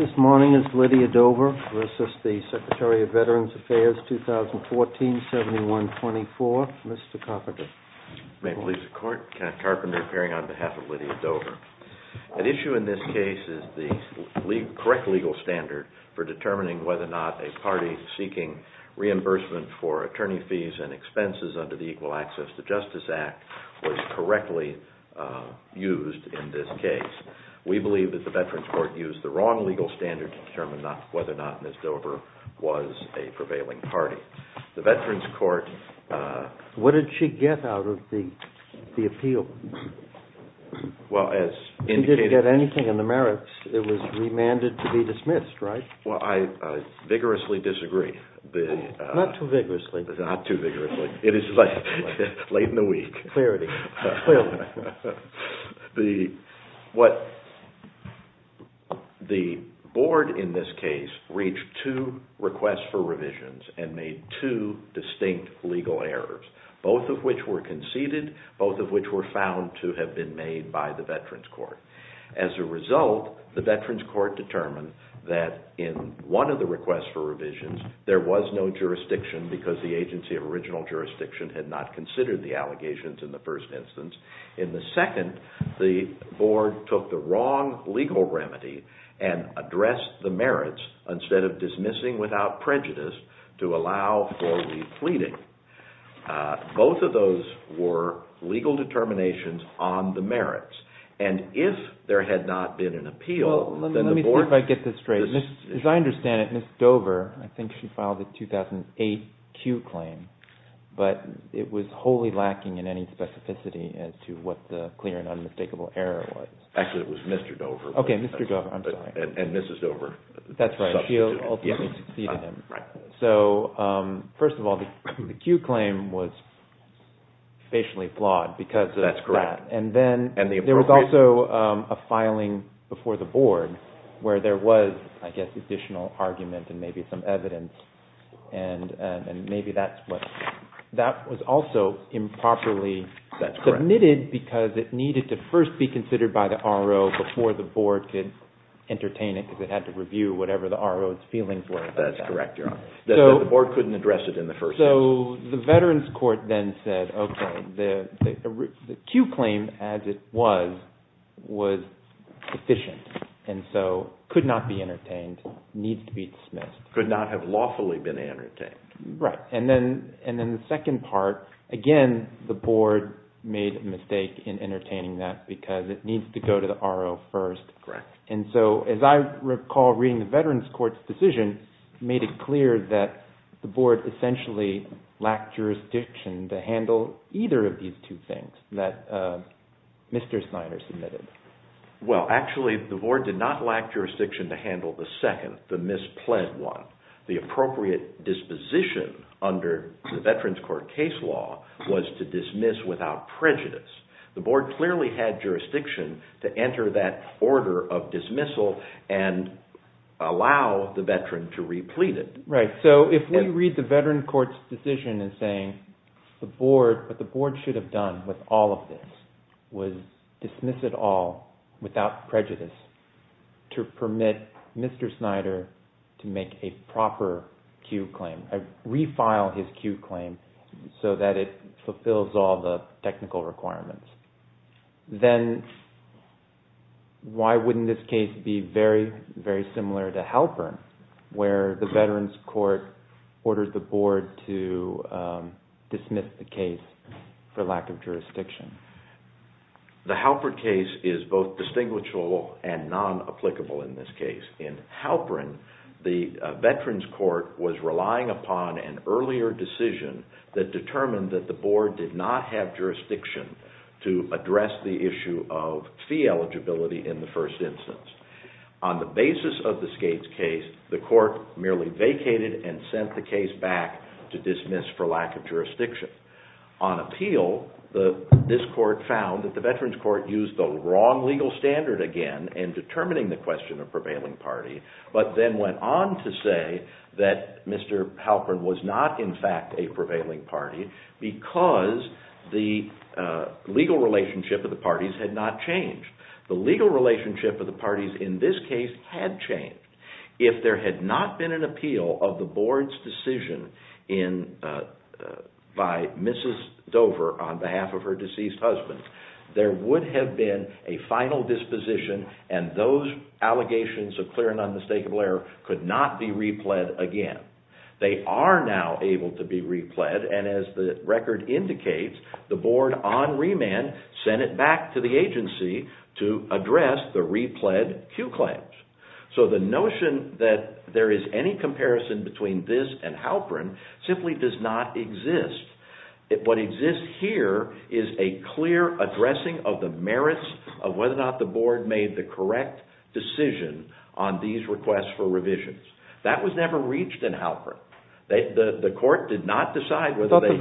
The issue in this case is the correct legal standard for determining whether or not a party seeking reimbursement for attorney fees and expenses under the Equal Access to Justice Act was correctly used in this case. We believe that the Veterans Court used the wrong legal standard to determine whether or not Ms. Dover was a prevailing party. What did she get out of the appeal? She didn't get anything in the merits. It was remanded to be dismissed, right? Well, I vigorously disagree. Not too vigorously. Not too vigorously. It is late in the week. The board in this case reached two requests for revisions and made two distinct legal errors. Both of which were conceded. Both of which were found to have been made by the Veterans Court. As a result, the Veterans Court determined that in one of the requests for revisions, there was no jurisdiction because the agency of In the second, the board took the wrong legal remedy and addressed the merits instead of dismissing without prejudice to allow for repleting. Both of those were legal determinations on the merits. And if there had not been an appeal, then the board... Let me see if I get this straight. As I understand it, Ms. Dover, I think she filed a 2008 Q claim. But it was wholly lacking in any specificity as to what the clear and unmistakable error was. Actually, it was Mr. Dover. Okay, Mr. Dover. I'm sorry. And Mrs. Dover. That's right. She ultimately succeeded him. Right. That's correct. And then there was also a filing before the board where there was, I guess, additional argument and maybe some evidence. And maybe that's what... That was also improperly submitted because it needed to first be considered by the RO before the board could entertain it because it had to review whatever the RO was feeling for it. That's correct, Your Honor. The board couldn't address it in the first place. So the veterans court then said, okay, the Q claim as it was, was sufficient and so could not be entertained, needs to be dismissed. Could not have lawfully been entertained. Right. And then the second part, again, the board made a mistake in entertaining that because it needs to go to the RO first. Correct. And so, as I recall reading the veterans court's decision, made it clear that the board essentially lacked jurisdiction to handle either of these two things that Mr. Snyder submitted. Well, actually, the board did not lack jurisdiction to handle the second, the mispled one. The appropriate disposition under the veterans court case law was to dismiss without prejudice. The board clearly had jurisdiction to enter that order of dismissal and allow the veteran to replete it. Right. So if we read the veterans court's decision in saying the board, what the board should have done with all of this was dismiss it all without prejudice to permit Mr. Snyder to make a proper Q claim, refile his Q claim so that it fulfills all the technical requirements. Then why wouldn't this case be very, very similar to Halpern where the veterans court ordered the board to dismiss the case for lack of jurisdiction? The Halpern case is both distinguishable and non-applicable in this case. In Halpern, the veterans court was relying upon an earlier decision that determined that the board did not have jurisdiction to address the issue of fee eligibility in the first instance. On the basis of the Skates case, the court merely vacated and sent the case back to dismiss for lack of jurisdiction. On appeal, this court found that the veterans court used the wrong legal standard again in determining the question of prevailing party, but then went on to say that Mr. Halpern was not in fact a prevailing party because the legal relationship of the parties had not changed. The legal relationship of the parties in this case had changed. If there had not been an appeal of the board's decision by Mrs. Dover on behalf of her deceased husband, there would have been a final disposition and those allegations of clear and unmistakable error could not be repled again. They are now able to be repled and as the record indicates, the board on remand sent it back to the agency to address the repled Q claims. So the notion that there is any comparison between this and Halpern simply does not exist. What exists here is a clear addressing of the merits of whether or not the board made the correct decision on these requests for revisions. That was never reached in Halpern. The court did not decide whether they had...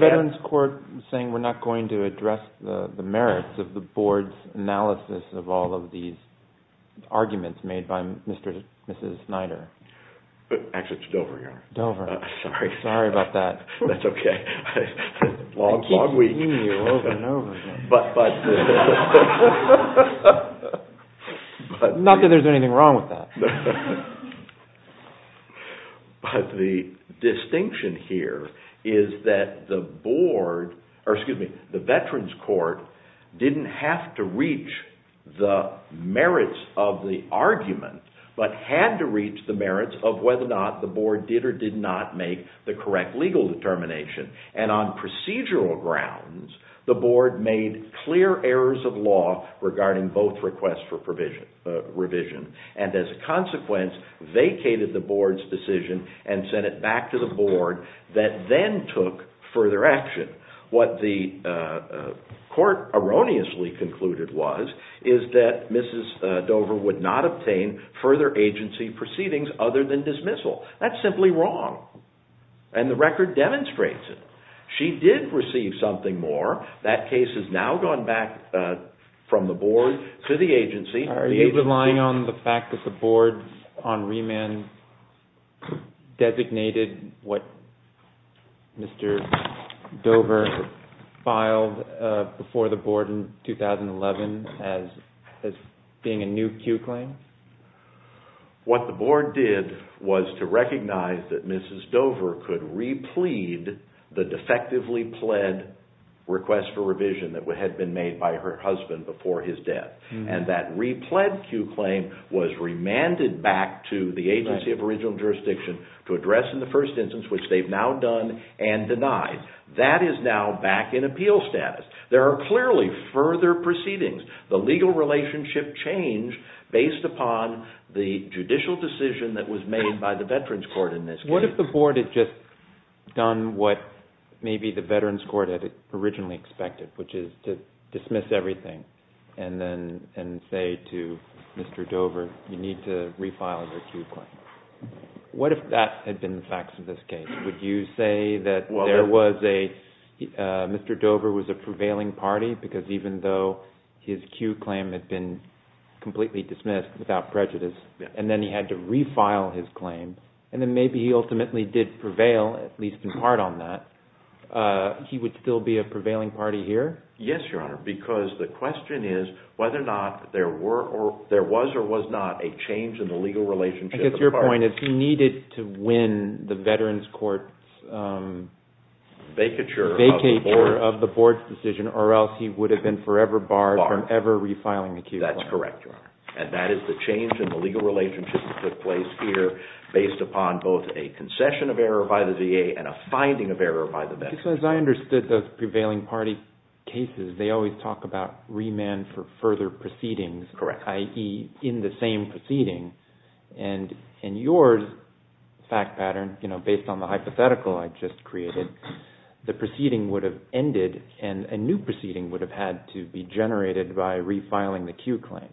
Actually, it's Dover, Your Honor. Dover. Sorry. Sorry about that. That's okay. Long, long week. I keep seeing you over and over again. Not that there's anything wrong with that. But the distinction here is that the board, or excuse me, the veterans court didn't have to reach the merits of the argument, but had to reach the merits of whether or not the board did or did not make the correct legal determination. And on procedural grounds, the board made clear errors of law regarding both requests for revision. And as a consequence, vacated the board's decision and sent it back to the board that then took further action. What the court erroneously concluded was is that Mrs. Dover would not obtain further agency proceedings other than dismissal. That's simply wrong. And the record demonstrates it. She did receive something more. That case has now gone back from the board to the agency. Are you relying on the fact that the board on remand designated what Mr. Dover filed before the board in 2011 as being a new Q claim? What the board did was to recognize that Mrs. Dover could replead the defectively pled request for revision that had been made by her husband before his death. And that replead Q claim was remanded back to the agency of original jurisdiction to address in the first instance, which they've now done and denied. That is now back in appeal status. There are clearly further proceedings. The legal relationship changed based upon the judicial decision that was made by the veterans court in this case. What if the board had just done what maybe the veterans court had originally expected, which is to dismiss everything and say to Mr. Dover, you need to refile the Q claim? What if that had been the facts of this case? Would you say that Mr. Dover was a prevailing party because even though his Q claim had been completely dismissed without prejudice, and then he had to refile his claim, and then maybe he ultimately did prevail, at least in part on that, he would still be a prevailing party here? Yes, Your Honor, because the question is whether or not there was or was not a change in the legal relationship. I guess your point is he needed to win the veterans court's vacature of the board's decision or else he would have been forever barred from ever refiling the Q claim. That's correct, Your Honor. That is the change in the legal relationship that took place here based upon both a concession of error by the VA and a finding of error by the veterans court. As I understood those prevailing party cases, they always talk about remand for further proceedings, i.e., in the same proceeding. In your fact pattern, based on the hypothetical I just created, the proceeding would have ended and a new proceeding would have had to be generated by refiling the Q claim.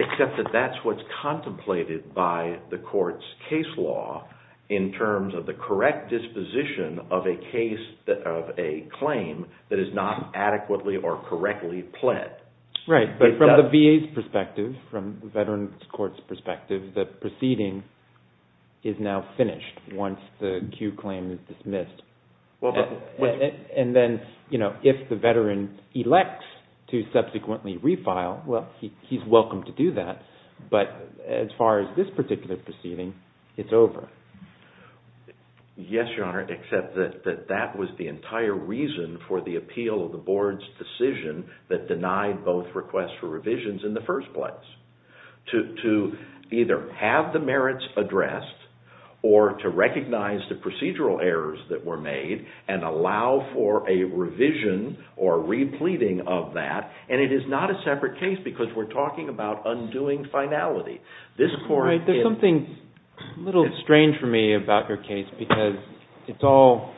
Except that that's what's contemplated by the court's case law in terms of the correct disposition of a claim that is not adequately or correctly pled. Right, but from the VA's perspective, from the veterans court's perspective, the proceeding is now finished once the Q claim is dismissed. If the veteran elects to subsequently refile, he's welcome to do that, but as far as this particular proceeding, it's over. Yes, Your Honor, except that that was the entire reason for the appeal of the board's decision that denied both requests for revisions in the first place. To either have the merits addressed or to recognize the procedural errors that were made and allow for a revision or repleting of that. And it is not a separate case because we're talking about undoing finality. There's something a little strange for me about your case because it's all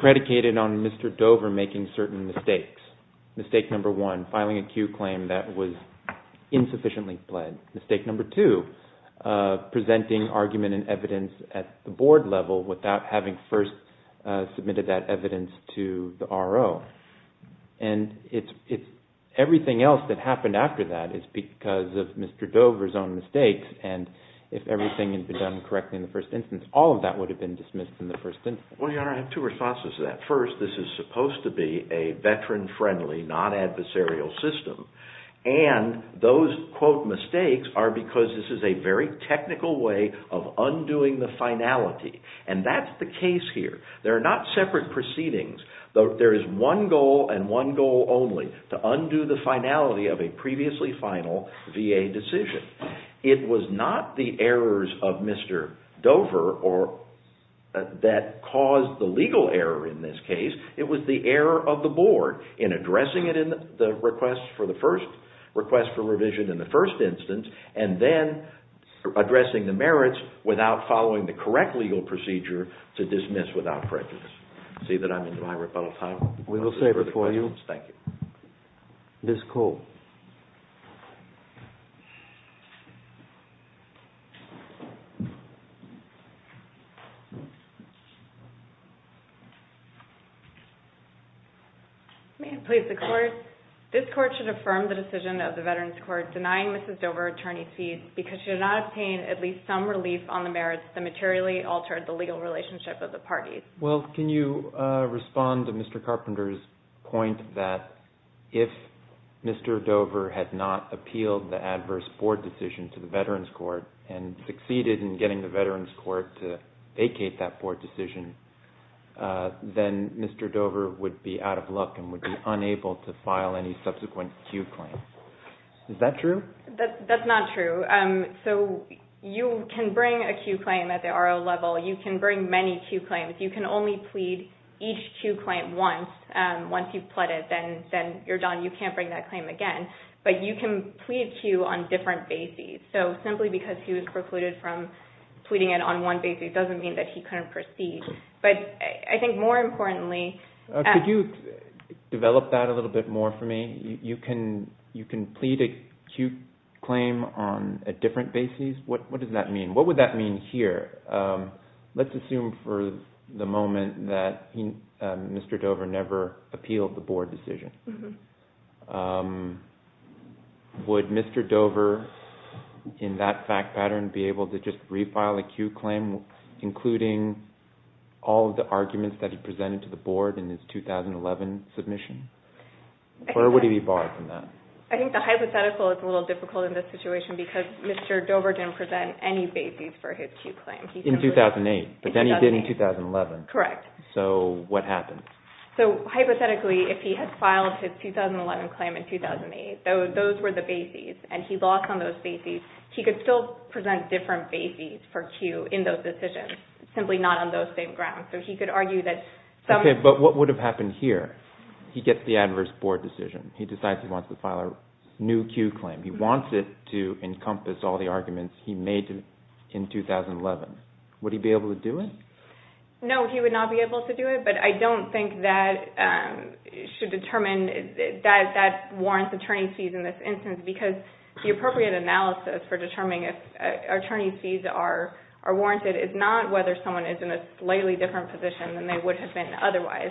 predicated on Mr. Dover making certain mistakes. Mistake number one, filing a Q claim that was insufficiently pled. Mistake number two, presenting argument and evidence at the board level without having first submitted that evidence to the RO. And everything else that happened after that is because of Mr. Dover's own mistakes. And if everything had been done correctly in the first instance, all of that would have been dismissed in the first instance. Well, Your Honor, I have two responses to that. First, this is supposed to be a veteran-friendly, non-adversarial system. And those, quote, mistakes are because this is a very technical way of undoing the finality. And that's the case here. There are not separate proceedings. There is one goal and one goal only, to undo the finality of a previously final VA decision. It was not the errors of Mr. Dover that caused the legal error in this case. It was the error of the board in addressing it in the request for the first, request for revision in the first instance, and then addressing the merits without following the correct legal procedure to dismiss without prejudice. See that I'm into my rebuttal time? We will save it for you. Thank you. Ms. Cole. May it please the Court. This Court should affirm the decision of the Veterans Court denying Mrs. Dover attorney fees because she did not obtain at least some relief on the merits that materially altered the legal relationship of the parties. Well, can you respond to Mr. Carpenter's point that if Mr. Dover had not appealed the adverse board decision to the Veterans Court and succeeded in getting the Veterans Court to vacate that board decision, then Mr. Dover would be out of luck and would be unable to file any subsequent Q claims. Is that true? That's not true. So you can bring a Q claim at the RO level. You can bring many Q claims. You can only plead each Q claim once. Once you've pled it, then you're done. You can't bring that claim again. But you can plead Q on different bases. So simply because he was precluded from pleading it on one basis doesn't mean that he couldn't proceed. But I think more importantly – Could you develop that a little bit more for me? You can plead a Q claim on a different basis? What does that mean? What would that mean here? Let's assume for the moment that Mr. Dover never appealed the board decision. Would Mr. Dover, in that fact pattern, be able to just refile a Q claim, including all of the arguments that he presented to the board in his 2011 submission? Or would he be barred from that? I think the hypothetical is a little difficult in this situation because Mr. Dover didn't present any bases for his Q claim. In 2008? In 2008. But then he did in 2011. Correct. So what happened? So hypothetically, if he had filed his 2011 claim in 2008, those were the bases, and he lost on those bases, he could still present different bases for Q in those decisions, simply not on those same grounds. So he could argue that some – Okay, but what would have happened here? He gets the adverse board decision. He decides he wants to file a new Q claim. He wants it to encompass all the arguments he made in 2011. Would he be able to do it? No, he would not be able to do it. But I don't think that should determine – that warrants attorney's fees in this instance because the appropriate analysis for determining if attorney's fees are warranted is not whether someone is in a slightly different position than they would have been otherwise.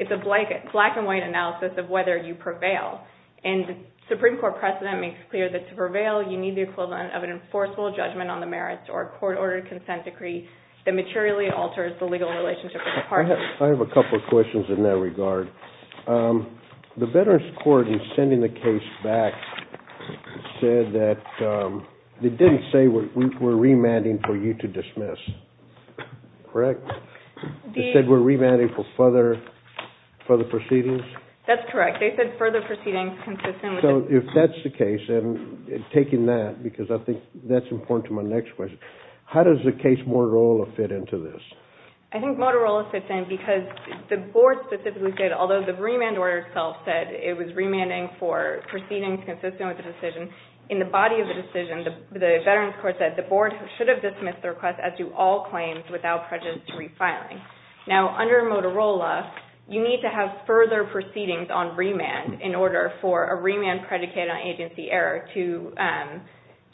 It's a black-and-white analysis of whether you prevail. And the Supreme Court precedent makes clear that to prevail, you need the equivalent of an enforceable judgment on the merits or a court-ordered consent decree that materially alters the legal relationship with the parties. I have a couple of questions in that regard. The Veterans Court in sending the case back said that – they didn't say we're remanding for you to dismiss, correct? They said we're remanding for further proceedings? They said further proceedings consistent with the – If that's the case, and taking that, because I think that's important to my next question, how does the case Motorola fit into this? I think Motorola fits in because the board specifically said, although the remand order itself said it was remanding for proceedings consistent with the decision, in the body of the decision, the Veterans Court said the board should have dismissed the request as do all claims without prejudice to refiling. Now, under Motorola, you need to have further proceedings on remand in order for a remand predicated on agency error to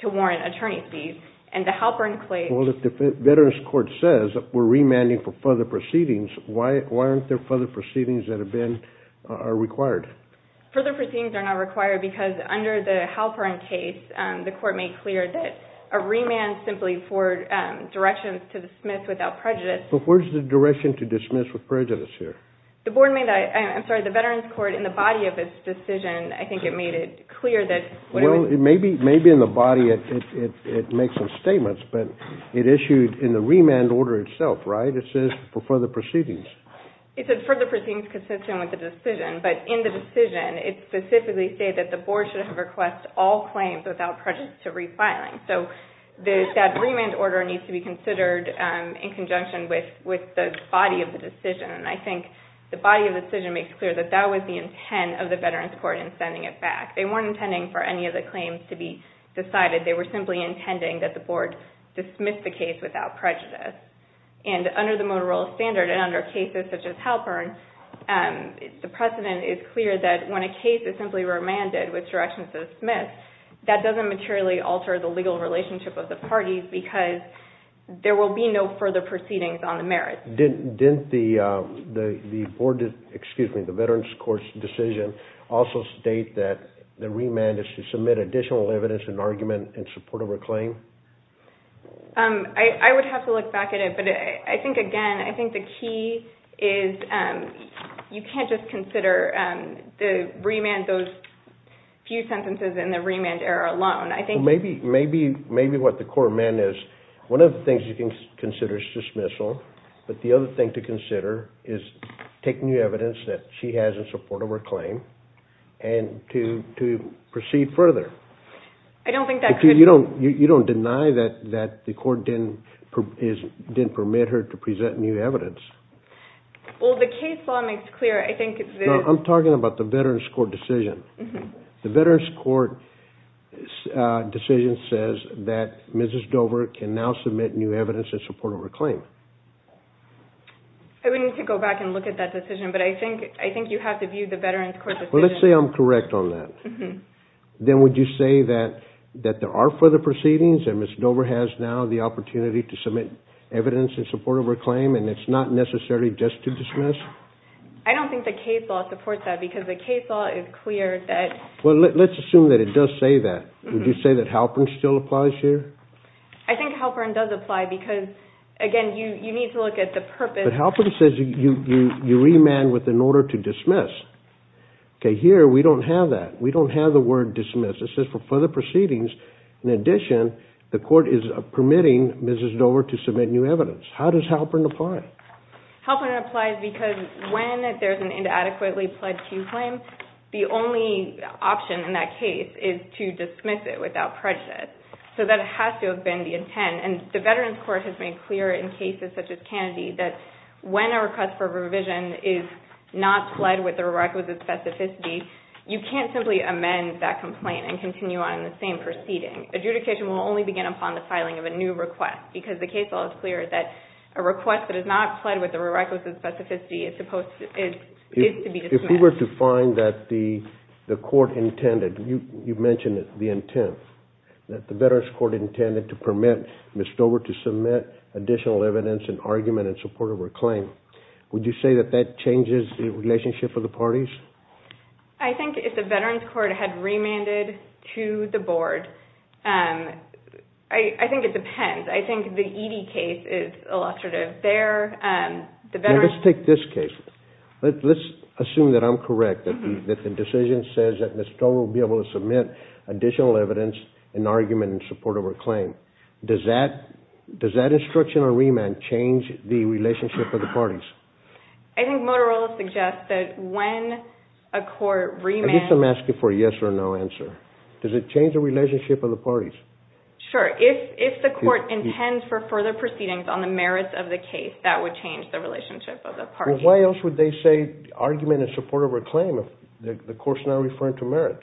warrant attorney's fees, and the Halpern claim – Well, if the Veterans Court says we're remanding for further proceedings, why aren't there further proceedings that have been – are required? Further proceedings are not required because under the Halpern case, the court made clear that a remand simply for directions to dismiss without prejudice – But where's the direction to dismiss with prejudice here? The board made – I'm sorry, the Veterans Court, in the body of its decision, I think it made it clear that – Well, maybe in the body it makes some statements, but it issued in the remand order itself, right? It says for further proceedings. It said further proceedings consistent with the decision, but in the decision, it specifically said that the board should have requested all claims without prejudice to refiling. And I think the body of the decision makes clear that that was the intent of the Veterans Court in sending it back. They weren't intending for any of the claims to be decided. They were simply intending that the board dismiss the case without prejudice. And under the Motorola standard and under cases such as Halpern, the precedent is clear that when a case is simply remanded with directions to dismiss, that doesn't materially alter the legal relationship of the parties because there will be no further proceedings on the merits. Didn't the board – excuse me, the Veterans Court's decision also state that the remand is to submit additional evidence and argument in support of a claim? I would have to look back at it, but I think, again, I think the key is you can't just consider the remand, those few sentences in the remand error alone. I think – Maybe what the court amended is one of the things you can consider is dismissal, but the other thing to consider is take new evidence that she has in support of her claim and to proceed further. I don't think that could – You don't deny that the court didn't permit her to present new evidence. Well, the case law makes clear, I think – No, I'm talking about the Veterans Court decision. The Veterans Court decision says that Mrs. Dover can now submit new evidence in support of her claim. I would need to go back and look at that decision, but I think you have to view the Veterans Court decision – Well, let's say I'm correct on that. Then would you say that there are further proceedings and Mrs. Dover has now the opportunity to submit evidence in support of her claim and it's not necessarily just to dismiss? I don't think the case law supports that because the case law is clear that – Well, let's assume that it does say that. Would you say that Halpern still applies here? I think Halpern does apply because, again, you need to look at the purpose – But Halpern says you remand with an order to dismiss. Okay, here we don't have that. We don't have the word dismiss. It says for further proceedings, in addition, the court is permitting Mrs. Dover to submit new evidence. How does Halpern apply? Halpern applies because when there's an inadequately pledged to claim, the only option in that case is to dismiss it without prejudice. So that has to have been the intent, and the Veterans Court has made clear in cases such as Kennedy that when a request for revision is not pled with the requisite specificity, you can't simply amend that complaint and continue on in the same proceeding. Adjudication will only begin upon the filing of a new request because the case law is clear that a request that is not pled with the requisite specificity is to be dismissed. If we were to find that the court intended – you mentioned the intent, that the Veterans Court intended to permit Mrs. Dover to submit additional evidence in argument in support of her claim. Would you say that that changes the relationship of the parties? I think if the Veterans Court had remanded to the Board, I think it depends. I think the Edie case is illustrative there. Let's take this case. Let's assume that I'm correct, that the decision says that Mrs. Dover will be able to submit additional evidence in argument in support of her claim. Does that instruction or remand change the relationship of the parties? I think Motorola suggests that when a court remands – At least I'm asking for a yes or no answer. Does it change the relationship of the parties? Sure. If the court intends for further proceedings on the merits of the case, that would change the relationship of the parties. Why else would they say argument in support of her claim if the court's now referring to merits?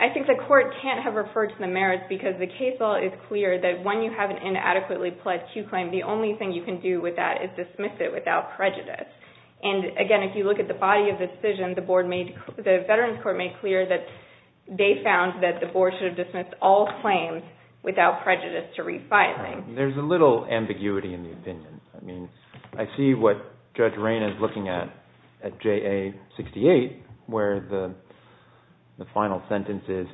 I think the court can't have referred to the merits because the case law is clear that when you have an inadequately pledged Q claim, the only thing you can do with that is dismiss it without prejudice. Again, if you look at the body of the decision, the Veterans Court made clear that they found that the Board should have dismissed all claims without prejudice to re-filing. There's a little ambiguity in the opinion. I mean, I see what Judge Rayne is looking at, at JA 68, where the final sentence is,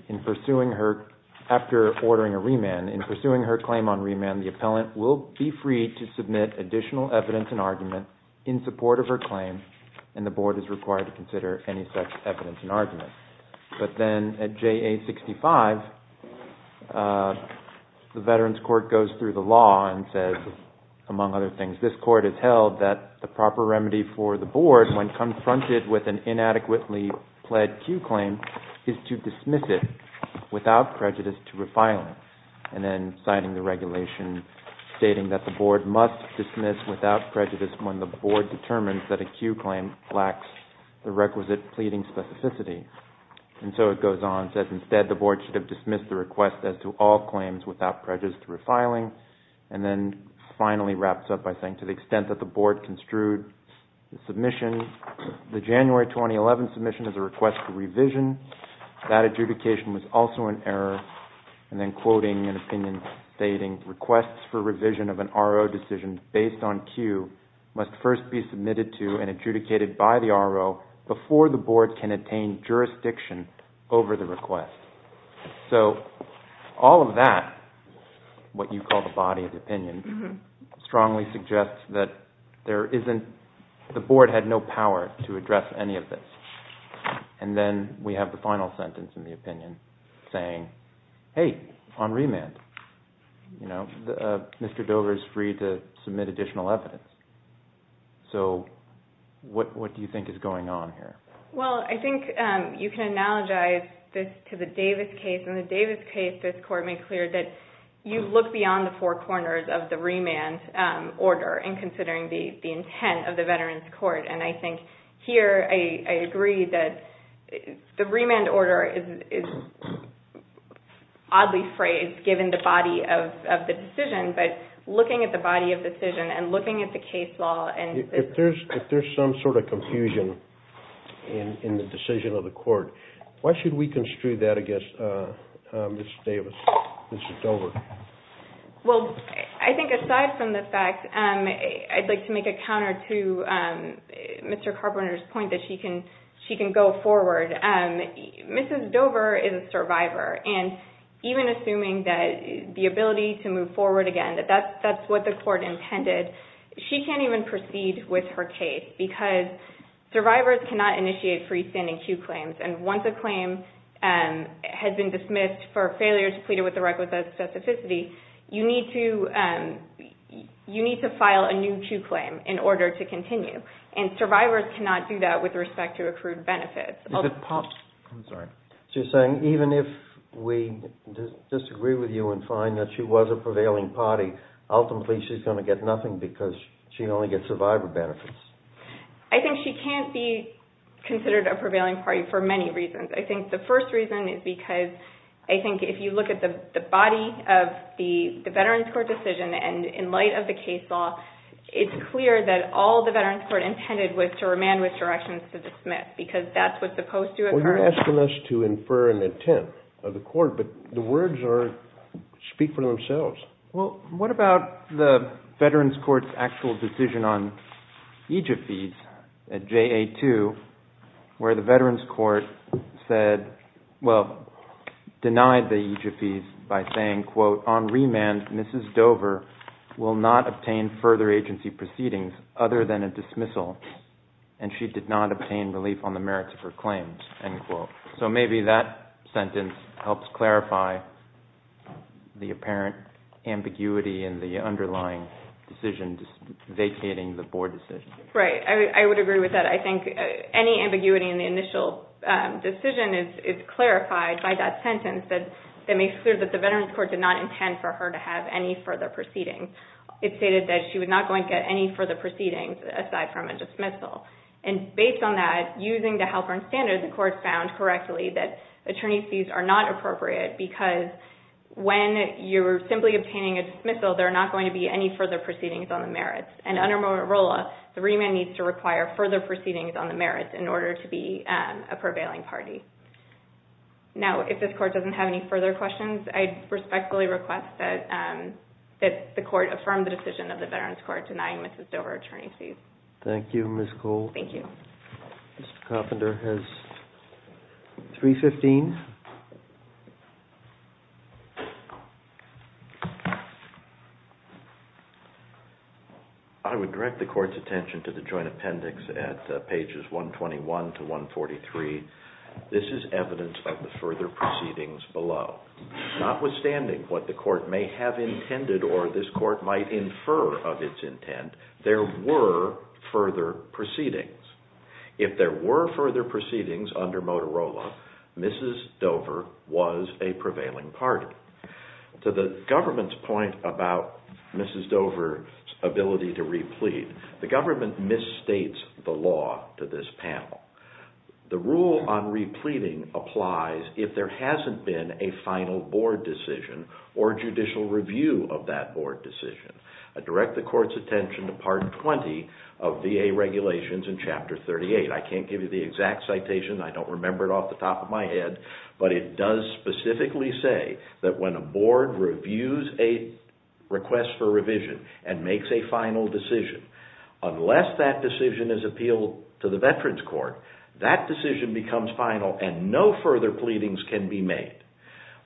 after ordering a remand, in pursuing her claim on remand, the appellant will be free to submit additional evidence and argument in support of her claim, and the Board is required to consider any such evidence and argument. But then at JA 65, the Veterans Court goes through the law and says, among other things, this court has held that the proper remedy for the Board when confronted with an inadequately pledged Q claim is to dismiss it without prejudice to re-filing, and then signing the regulation stating that the Board must dismiss without prejudice when the Board determines that a Q claim lacks the requisite pleading specificity. And so it goes on and says, as to all claims without prejudice to re-filing, and then finally wraps up by saying, to the extent that the Board construed the submission, the January 2011 submission is a request for revision. That adjudication was also an error, and then quoting an opinion stating, requests for revision of an RO decision based on Q must first be submitted to and adjudicated by the RO before the Board can attain jurisdiction over the request. So all of that, what you call the body of opinion, strongly suggests that the Board had no power to address any of this. And then we have the final sentence in the opinion saying, hey, on remand, Mr. Dover is free to submit additional evidence. So what do you think is going on here? Well, I think you can analogize this to the Davis case. In the Davis case, this Court made clear that you look beyond the four corners of the remand order in considering the intent of the Veterans Court. And I think here I agree that the remand order is oddly phrased, given the body of the decision, but looking at the body of the decision and looking at the case law. If there's some sort of confusion in the decision of the Court, why should we construe that against Mrs. Davis, Mrs. Dover? Well, I think aside from the fact, I'd like to make a counter to Mr. Carpenter's point that she can go forward. Mrs. Dover is a survivor, and even assuming that the ability to move forward again, that that's what the Court intended, she can't even proceed with her case because survivors cannot initiate freestanding cue claims. And once a claim has been dismissed for failure to plead it with the record of specificity, you need to file a new cue claim in order to continue. And survivors cannot do that with respect to accrued benefits. I'm sorry. So you're saying even if we disagree with you and find that she was a prevailing party, ultimately she's going to get nothing because she can only get survivor benefits. I think she can't be considered a prevailing party for many reasons. I think the first reason is because, I think if you look at the body of the Veterans Court decision and in light of the case law, it's clear that all the Veterans Court intended was to remand with directions to dismiss because that's what's supposed to occur. Well, you're asking us to infer an intent of the Court, but the words speak for themselves. Well, what about the Veterans Court's actual decision on EJFEs at JA2 where the Veterans Court said, well, denied the EJFEs by saying, quote, on remand, Mrs. Dover will not obtain further agency proceedings other than a dismissal, and she did not obtain relief on the merits of her claims, end quote. So maybe that sentence helps clarify the apparent ambiguity in the underlying decision vacating the Board decision. Right. I would agree with that. I think any ambiguity in the initial decision is clarified by that sentence that makes clear that the Veterans Court did not intend for her to have any further proceedings. It stated that she was not going to get any further proceedings aside from a dismissal, and based on that, using the Halpern standard, the Court found correctly that attorney's fees are not appropriate because when you're simply obtaining a dismissal, there are not going to be any further proceedings on the merits, and under Morolla, the remand needs to require further proceedings on the merits in order to be a prevailing party. Now, if this Court doesn't have any further questions, I respectfully request that the Court affirm the decision of the Veterans Court denying Mrs. Dover attorney's fees. Thank you, Ms. Cole. Thank you. Mr. Coffender has 315. I would direct the Court's attention to the joint appendix at pages 121 to 143. This is evidence of the further proceedings below. Notwithstanding what the Court may have intended or this Court might infer of its intent, there were further proceedings. If there were further proceedings under Motorola, Mrs. Dover was a prevailing party. To the government's point about Mrs. Dover's ability to replete, the government misstates the law to this panel. The rule on repleting applies if there hasn't been a final board decision or judicial review of that board decision. I direct the Court's attention to part 20 of VA regulations in chapter 38. I can't give you the exact citation. I don't remember it off the top of my head, but it does specifically say that when a board reviews a request for revision and makes a final decision, unless that decision is appealed to the Veterans Court, that decision becomes final and no further pleadings can be made.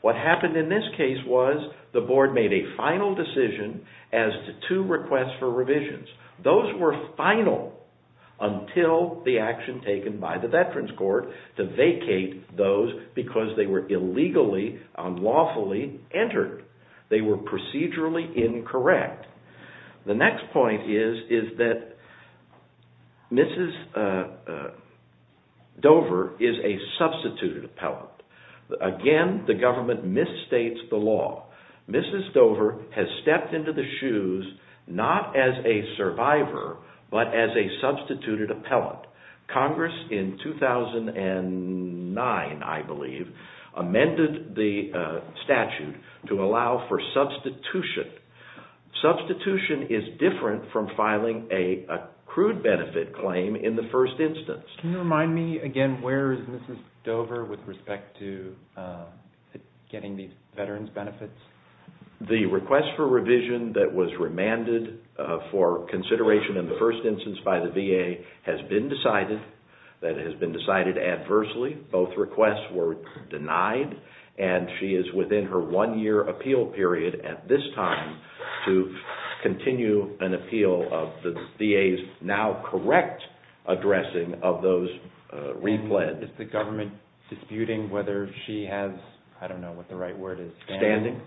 What happened in this case was the board made a final decision as to two requests for revisions. Those were final until the action taken by the Veterans Court to vacate those because they were illegally, unlawfully entered. They were procedurally incorrect. The next point is that Mrs. Dover is a substituted appellant. Again, the government misstates the law. Mrs. Dover has stepped into the shoes not as a survivor, but as a substituted appellant. Congress in 2009, I believe, amended the statute to allow for substitution. Substitution is different from filing a accrued benefit claim in the first instance. Can you remind me again where is Mrs. Dover with respect to getting these veterans benefits? The request for revision that was remanded for consideration in the first instance by the VA has been decided. That has been decided adversely. Both requests were denied. She is within her one-year appeal period at this time to continue an appeal of the VA's now correct addressing of those repleds. Is the government disputing whether she has, I don't know what the right word is, standing?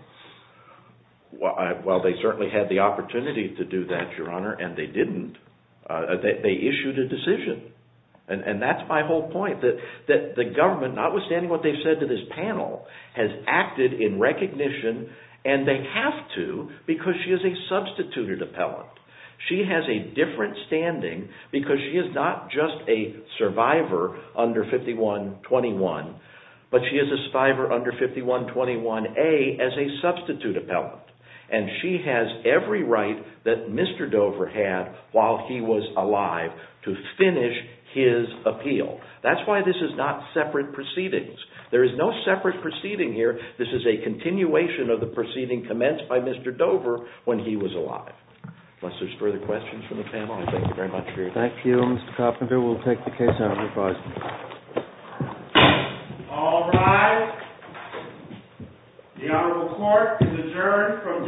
They certainly had the opportunity to do that, Your Honor, and they didn't. They issued a decision. That's my whole point, that the government, notwithstanding what they've said to this panel, has acted in recognition, and they have to because she is a substituted appellant. She has a different standing because she is not just a survivor under 5121, but she is a survivor under 5121A as a substitute appellant. And she has every right that Mr. Dover had while he was alive to finish his appeal. That's why this is not separate proceedings. There is no separate proceeding here. This is a continuation of the proceeding commenced by Mr. Dover when he was alive. Unless there's further questions from the panel, I thank you very much for your time. Thank you, Mr. Coffman. We'll take the case out of the closet. All rise. The Honorable Court is adjourned from day to day.